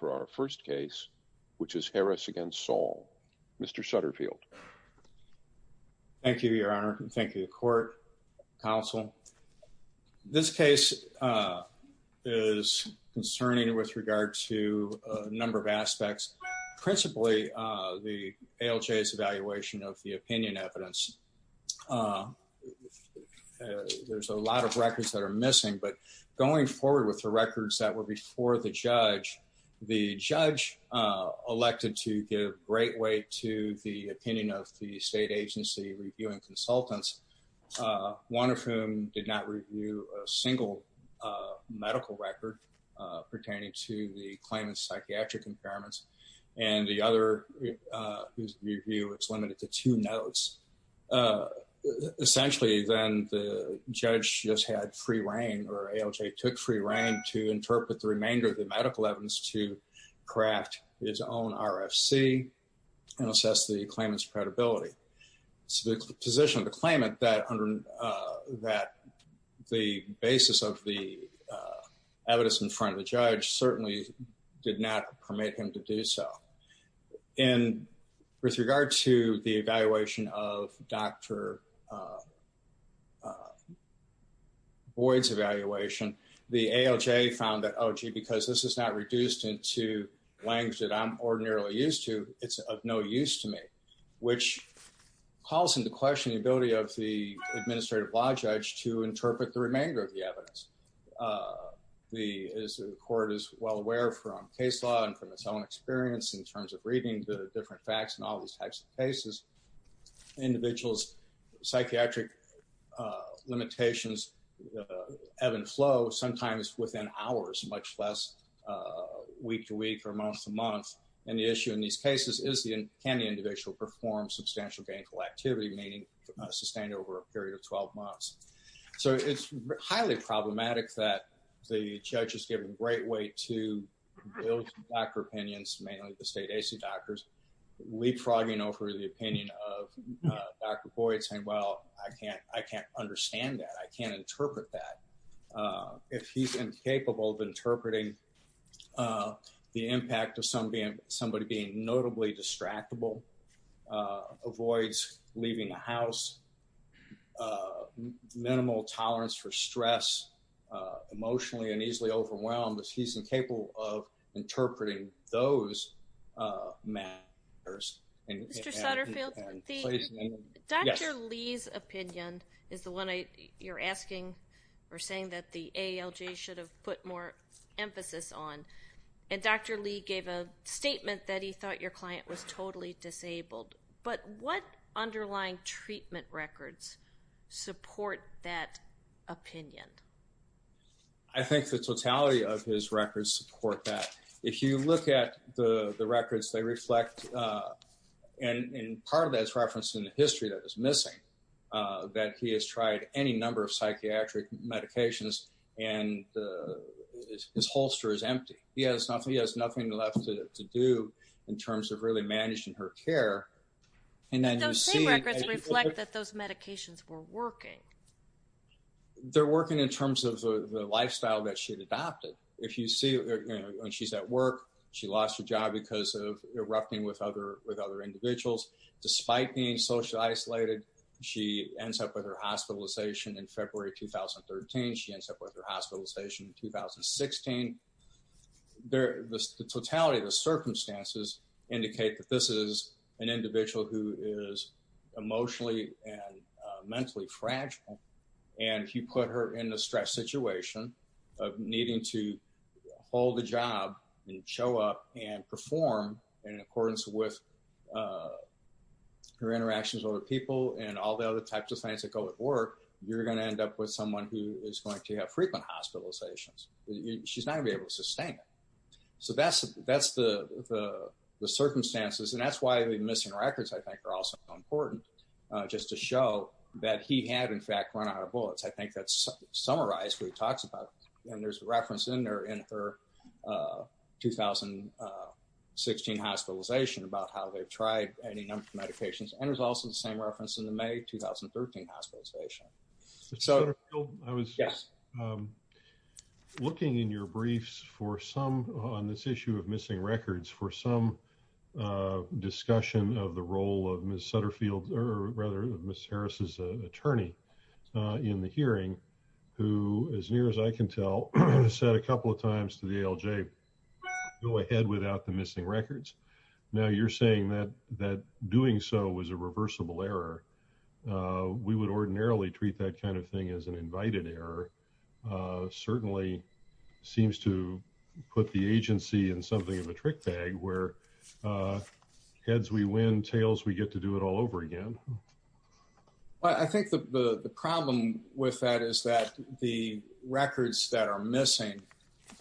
for our first case, which is Harris against Saul. Mr. Sutterfield. Thank you, Your Honor. Thank you, Court, Counsel. This case is concerning with regard to a number of aspects, principally, the ALJ's evaluation of the opinion evidence. There's a lot of records that are missing, but going forward with the records that were before the judge, the judge elected to give great weight to the opinion of the state agency reviewing consultants, one of whom did not review a single medical record pertaining to the claimant's psychiatric impairments. And the other whose review is limited to two notes. Essentially, then the judge just had free reign or ALJ took free reign to interpret the remainder of the medical evidence to craft its own RFC and assess the claimant's credibility. So the position of the claimant that the basis of the evidence in front of the judge certainly did not permit him to do so. And with regard to the evaluation of Dr. Boyd's evaluation, the ALJ found that, oh, gee, because this is not reduced into language that I'm ordinarily used to, it's of no use to me. Which calls into question the ability of the administrative law judge to interpret the remainder of the evidence. The court is well aware from case law and from its own experience in terms of reading the different facts in all these types of cases, individuals, psychiatric limitations, ebb and flow, sometimes within hours, much less week to week or month to month. And the issue in these cases is can the individual perform substantial gainful activity, meaning sustained over a period of 12 months. So it's highly problematic that the judge is given great weight to build doctor opinions, mainly the state AC doctors, leapfrogging over the opinion of Dr. Boyd saying, well, I can't understand that. I can't interpret that. If he's incapable of interpreting the impact of somebody being notably distractible, avoids leaving the house, minimal tolerance for stress, emotionally and easily overwhelmed, if he's incapable of interpreting those matters. Mr. Sutterfield, Dr. Lee's opinion is the one you're asking or saying that the ALJ should have put more emphasis on. And Dr. Lee gave a statement that he thought your client was totally disabled. But what underlying treatment records support that opinion? I think the totality of his records support that. If you look at the records, they reflect and part of that is referenced in the history that was missing, that he has tried any number of psychiatric medications and his holster is empty. He has nothing left to do in terms of really managing her care. Those same records reflect that those medications were working. They're working in terms of the lifestyle that she had adopted. If you see when she's at work, she lost her job because of erupting with other individuals. Despite being socially isolated, she ends up with her hospitalization in February 2013. She ends up with her hospitalization in 2016. The totality of the circumstances indicate that this is an individual who is emotionally and mentally fragile. And if you put her in a stress situation of needing to hold a job and show up and perform in accordance with her interactions with other people and all the other types of things that go with work, you're going to end up with someone who is going to have frequent hospitalizations. She's not going to be able to sustain it. So that's the circumstances and that's why the missing records I think are also important just to show that he had in fact run out of bullets. I think that's summarized what he talks about and there's a reference in there in her 2016 hospitalization about how they've tried any number of medications and there's also the same reference in the May 2013 hospitalization. So I was looking in your briefs for some on this issue of missing records for some discussion of the role of Miss Sutterfield or rather Miss Harris's attorney in the hearing, who, as near as I can tell, said a couple of times to the LJ, go ahead without the missing records. Now you're saying that doing so was a reversible error. We would ordinarily treat that kind of thing as an invited error. Certainly seems to put the agency in something of a trick bag where heads we win, tails we get to do it all over again. I think the problem with that is that the records that are missing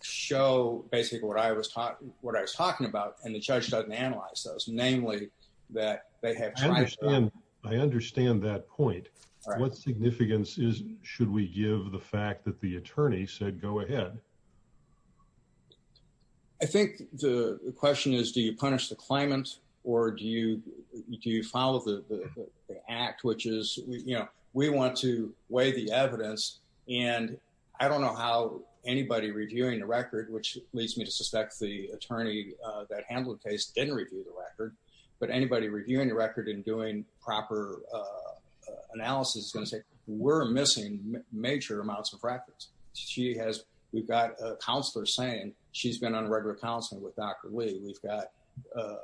show basically what I was taught, what I was talking about, and the judge doesn't analyze those, namely that they have. I understand that point. What significance is, should we give the fact that the attorney said, go ahead. I think the question is, do you punish the claimant or do you follow the act, which is, we want to weigh the evidence and I don't know how anybody reviewing the record, which leads me to suspect the attorney that handled the case didn't review the record, but anybody reviewing the record and doing proper analysis is going to say we're missing major amounts of records. We've got a counselor saying she's been on a regular counseling with Dr. Lee. We've got a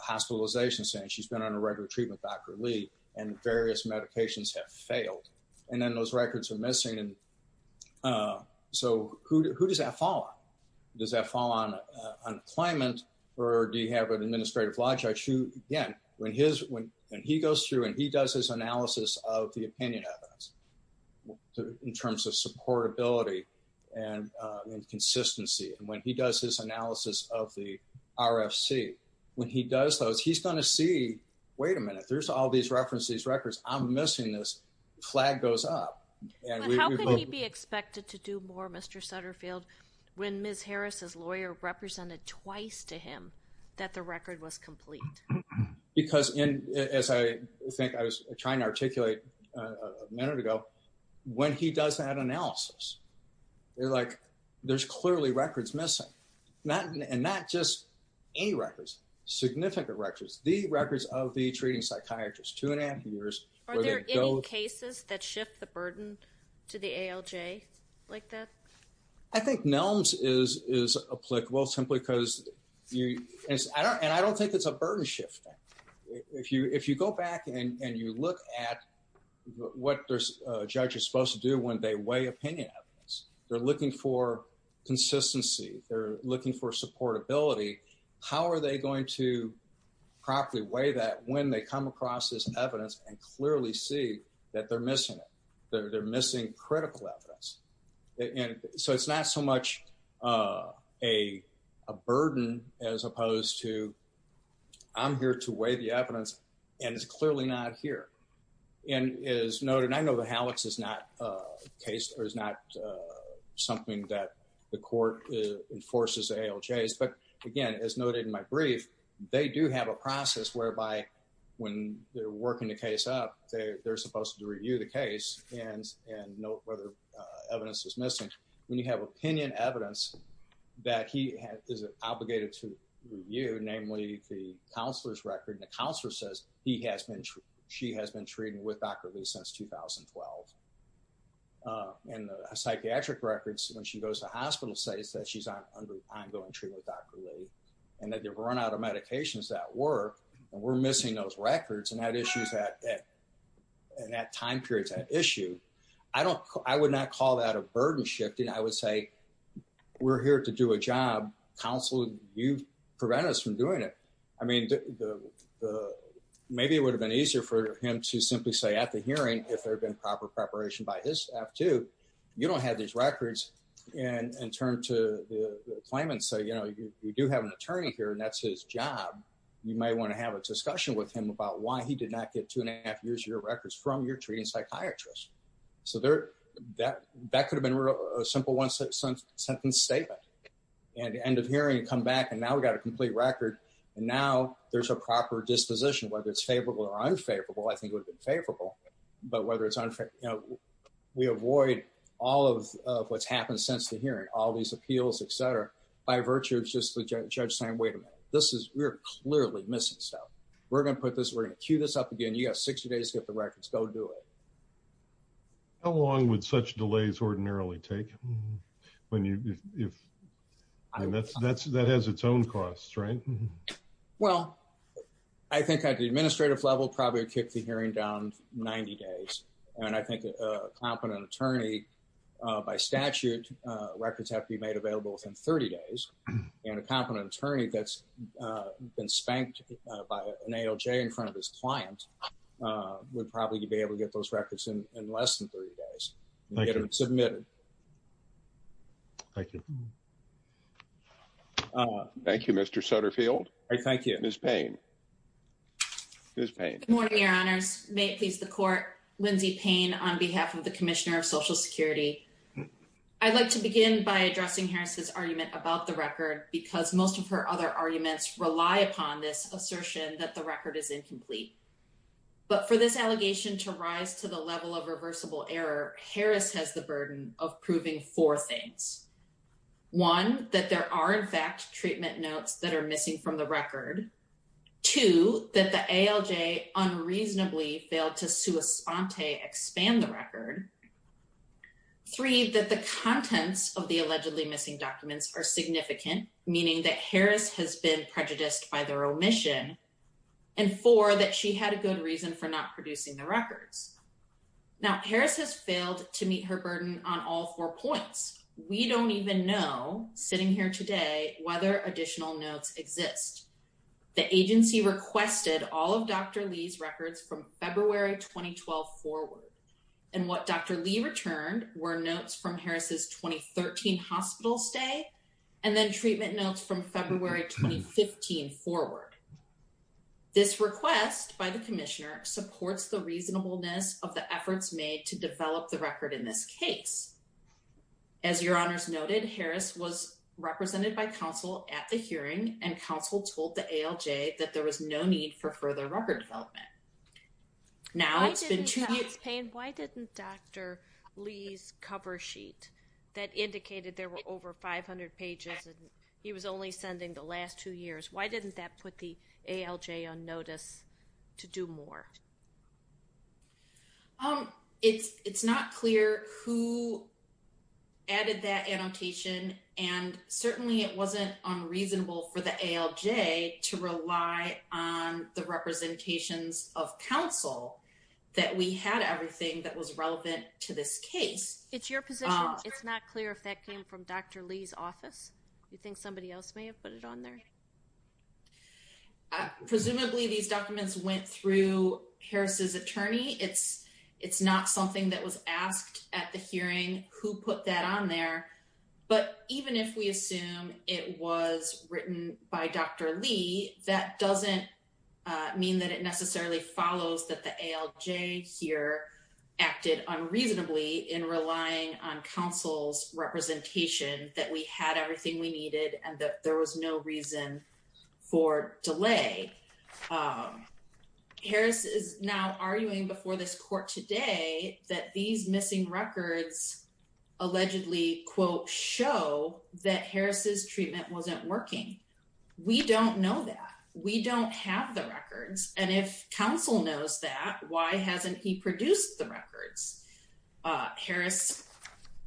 hospitalization saying she's been on a regular treatment with Dr. Lee and various medications have failed. And then those records are missing. So who does that fall on? Does that fall on a claimant or do you have an administrative logic? Again, when he goes through and he does his analysis of the opinion evidence in terms of supportability and consistency, and when he does his analysis of the RFC, when he does those, he's going to see, wait a minute, there's all these references, records, I'm missing this flag goes up. How can he be expected to do more, Mr. Sutterfield, when Ms. Harris's lawyer represented twice to him that the record was complete? Because as I think I was trying to articulate a minute ago, when he does that analysis, they're like, there's clearly records missing. And not just any records, significant records, the records of the treating psychiatrist, two and a half years. Are there any cases that shift the burden to the ALJ like that? I think NELMS is applicable simply because, and I don't think it's a burden shifting. If you go back and you look at what a judge is supposed to do when they weigh opinion evidence, they're looking for consistency, they're looking for supportability. How are they going to properly weigh that when they come across this evidence and clearly see that they're missing it? They're missing critical evidence. And so it's not so much a burden as opposed to, I'm here to weigh the evidence, and it's clearly not here. And as noted, and I know the HALEX is not something that the court enforces ALJs, but again, as noted in my brief, they do have a process whereby when they're working the case up, they're supposed to review the case and note whether evidence is missing. When you have opinion evidence that he is obligated to review, namely the counselor's record, and the counselor says he has been, she has been treating with Dr. Lee since 2012. And the psychiatric records when she goes to hospital say that she's on ongoing treatment with Dr. Lee. And that they've run out of medications that work, and we're missing those records, and that time period's an issue. I would not call that a burden shifting. I would say, we're here to do a job. Counselor, you've prevented us from doing it. I mean, maybe it would have been easier for him to simply say at the hearing, if there had been proper preparation by his staff too, you don't have these records, and turn to the claimant and say, you know, you do have an attorney here, and that's his job. You might want to have a discussion with him about why he did not get two and a half years of your records from your treating psychiatrist. So that could have been a simple one-sentence statement. At the end of hearing, come back, and now we've got a complete record, and now there's a proper disposition, whether it's favorable or unfavorable. I think it would have been favorable, but whether it's unfavorable, you know, we avoid all of what's happened since the hearing, all these appeals, et cetera, by virtue of just the judge saying, wait a minute, this is, we're clearly missing stuff. We're going to put this, we're going to queue this up again. You've got 60 days to get the records. Go do it. How long would such delays ordinarily take when you, if that's, that has its own costs, right? Well, I think at the administrative level, probably would kick the hearing down 90 days. And I think a competent attorney, by statute, records have to be made available within 30 days. And a competent attorney that's been spanked by an ALJ in front of his client would probably be able to get those records in less than 30 days and get them submitted. Thank you. Thank you, Mr. Sutterfield. I thank you. Ms. Payne. Good morning, Your Honors. May it please the court. Lindsay Payne on behalf of the Commissioner of Social Security. I'd like to begin by addressing Harris's argument about the record because most of her other arguments rely upon this assertion that the record is incomplete. But for this allegation to rise to the level of reversible error, Harris has the burden of proving four things. One, that there are in fact treatment notes that are missing from the record. Two, that the ALJ unreasonably failed to sua sponte expand the record. Three, that the contents of the allegedly missing documents are significant, meaning that Harris has been prejudiced by their omission. And four, that she had a good reason for not producing the records. Now, Harris has failed to meet her burden on all four points. We don't even know, sitting here today, whether additional notes exist. The agency requested all of Dr. Lee's records from February 2012 forward. And what Dr. Lee returned were notes from Harris's 2013 hospital stay and then treatment notes from February 2015 forward. This request by the Commissioner supports the reasonableness of the efforts made to develop the record in this case. As your honors noted, Harris was represented by counsel at the hearing and counsel told the ALJ that there was no need for further record development. Now, it's been two years. Why didn't Dr. Lee's cover sheet that indicated there were over 500 pages and he was only sending the last two years, why didn't that put the ALJ on notice to do more? It's not clear who added that annotation and certainly it wasn't unreasonable for the ALJ to rely on the representations of counsel that we had everything that was relevant to this case. It's your position. It's not clear if that came from Dr. Lee's office. You think somebody else may have put it on there? Presumably, these documents went through Harris's attorney. It's not something that was asked at the hearing who put that on there. But even if we assume it was written by Dr. Lee, that doesn't mean that it necessarily follows that the ALJ here acted unreasonably in relying on counsel's representation that we had everything we needed and that there was no reason for delay. Harris is now arguing before this court today that these missing records allegedly, quote, show that Harris's treatment wasn't working. We don't know that. We don't have the records. And if counsel knows that, why hasn't he produced the records? Harris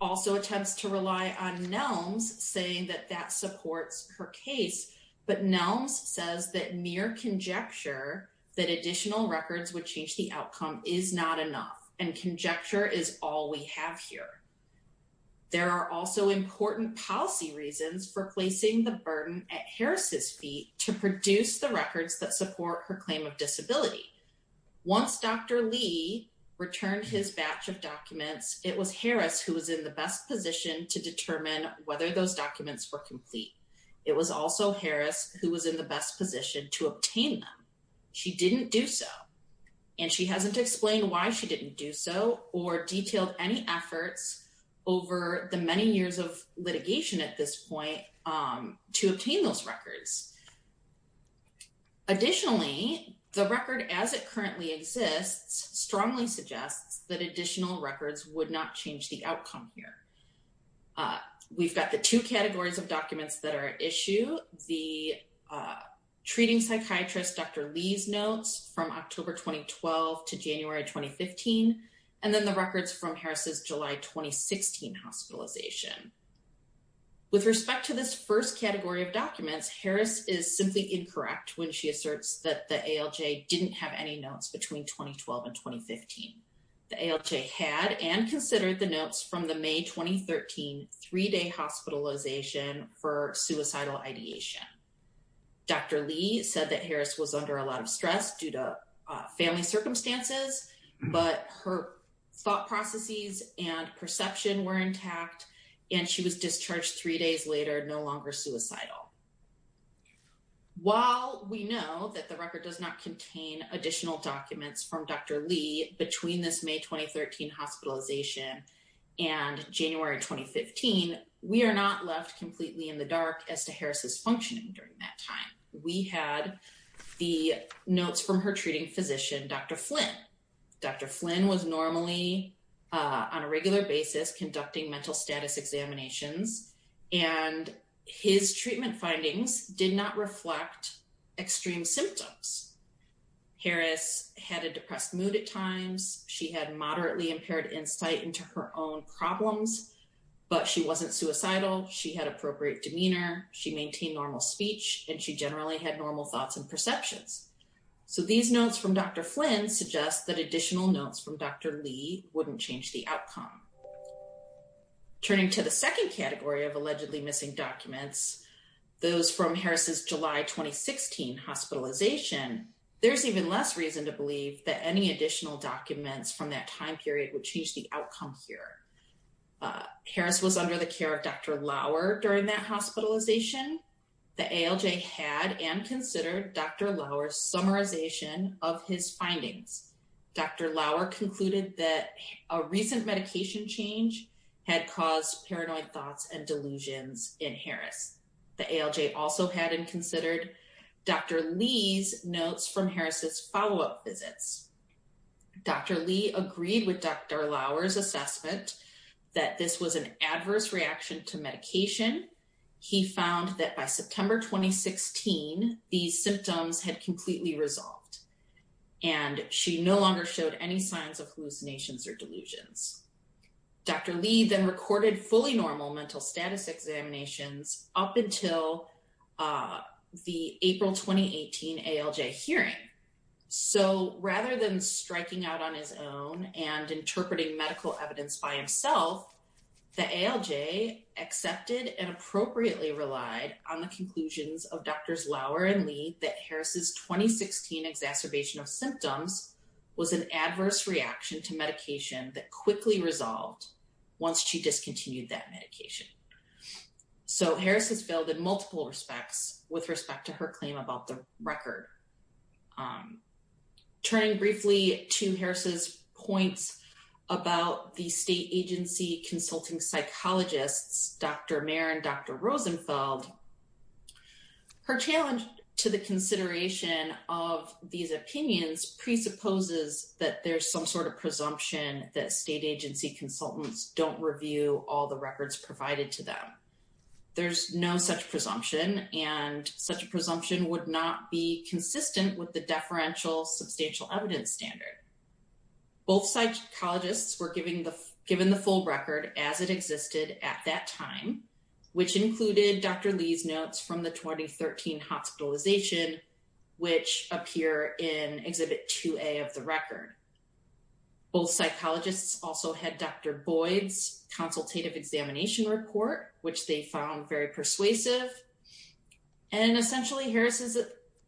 also attempts to rely on Nelms saying that that supports her case. But Nelms says that mere conjecture that additional records would change the outcome is not enough and conjecture is all we have here. There are also important policy reasons for placing the burden at Harris's feet to produce the records that support her claim of disability. Once Dr. Lee returned his batch of documents, it was Harris who was in the best position to determine whether those documents were complete. It was also Harris who was in the best position to obtain them. She didn't do so. And she hasn't explained why she didn't do so or detailed any efforts over the many years of litigation at this point to obtain those records. Additionally, the record as it currently exists strongly suggests that additional records would not change the outcome here. We've got the two categories of documents that are at issue, the treating psychiatrist Dr. Lee's notes from October 2012 to January 2015, and then the records from Harris's July 2016 hospitalization. With respect to this first category of documents, Harris is simply incorrect when she asserts that the ALJ didn't have any notes between 2012 and 2015. The ALJ had and considered the notes from the May 2013 three-day hospitalization for suicidal ideation. Dr. Lee said that Harris was under a lot of stress due to family circumstances, but her thought processes and perception were intact, and she was discharged three days later, no longer suicidal. While we know that the record does not contain additional documents from Dr. Lee between this May 2013 hospitalization and January 2015, we are not left completely in the dark as to Harris's functioning during that time. We had the notes from her treating physician, Dr. Flynn. Dr. Flynn was normally on a regular basis conducting mental status examinations, and his treatment findings did not reflect extreme symptoms. Harris had a depressed mood at times. She had moderately impaired insight into her own problems, but she wasn't suicidal. She had appropriate demeanor. She maintained normal speech, and she generally had normal thoughts and perceptions. So these notes from Dr. Flynn suggest that additional notes from Dr. Lee wouldn't change the outcome. Turning to the second category of allegedly missing documents, those from Harris's July 2016 hospitalization, there's even less reason to believe that any additional documents from that time period would change the outcome here. Harris was under the care of Dr. Lauer during that hospitalization. The ALJ had and considered Dr. Lauer's summarization of his findings. Dr. Lauer concluded that a recent medication change had caused paranoid thoughts and delusions in Harris. The ALJ also had and considered Dr. Lee's notes from Harris's follow-up visits. Dr. Lee agreed with Dr. Lauer's assessment that this was an adverse reaction to medication. He found that by September 2016, these symptoms had completely resolved, and she no longer showed any signs of hallucinations or delusions. Dr. Lee then recorded fully normal mental status examinations up until the April 2018 ALJ hearing. So rather than striking out on his own and interpreting medical evidence by himself, the ALJ accepted and appropriately relied on the conclusions of Drs. Lauer and Lee that Harris's 2016 exacerbation of symptoms was an adverse reaction to medication that quickly resolved once she discontinued that medication. So Harris has failed in multiple respects with respect to her claim about the record. Turning briefly to Harris's points about the state agency consulting psychologists, Dr. Mayer and Dr. Rosenfeld, her challenge to the consideration of these opinions presupposes that there's some sort of presumption that state agency consultants don't review all the records provided to them. There's no such presumption, and such a presumption would not be consistent with the deferential substantial evidence standard. Both psychologists were given the full record as it existed at that time, which included Dr. Lee's notes from the 2013 hospitalization, which appear in Exhibit 2A of the record. Both psychologists also had Dr. Boyd's consultative examination report, which they found very persuasive. And essentially, Harris is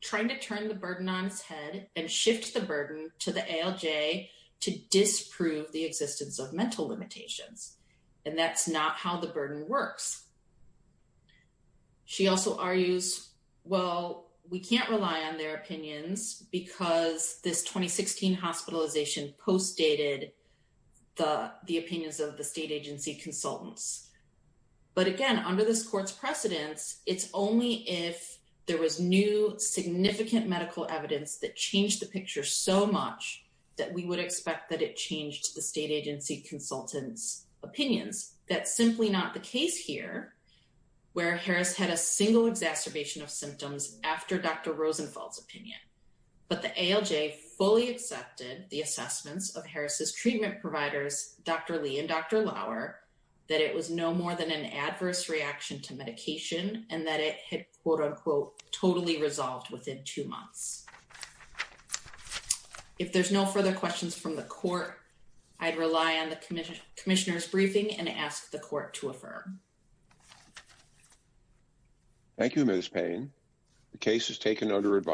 trying to turn the burden on its head and shift the burden to the ALJ to disprove the existence of mental limitations. And that's not how the burden works. She also argues, well, we can't rely on their opinions because this 2016 hospitalization postdated the opinions of the state agency consultants. But again, under this court's precedence, it's only if there was new significant medical evidence that changed the picture so much that we would expect that it changed the state agency consultants' opinions. That's simply not the case here, where Harris had a single exacerbation of symptoms after Dr. Rosenfeld's opinion. But the ALJ fully accepted the assessments of Harris's treatment providers, Dr. Lee and Dr. Lauer, that it was no more than an adverse reaction to medication and that it had, quote-unquote, totally resolved within two months. If there's no further questions from the court, I'd rely on the commissioner's briefing and ask the court to affirm. Thank you, Ms. Payne. The case is taken under advisory.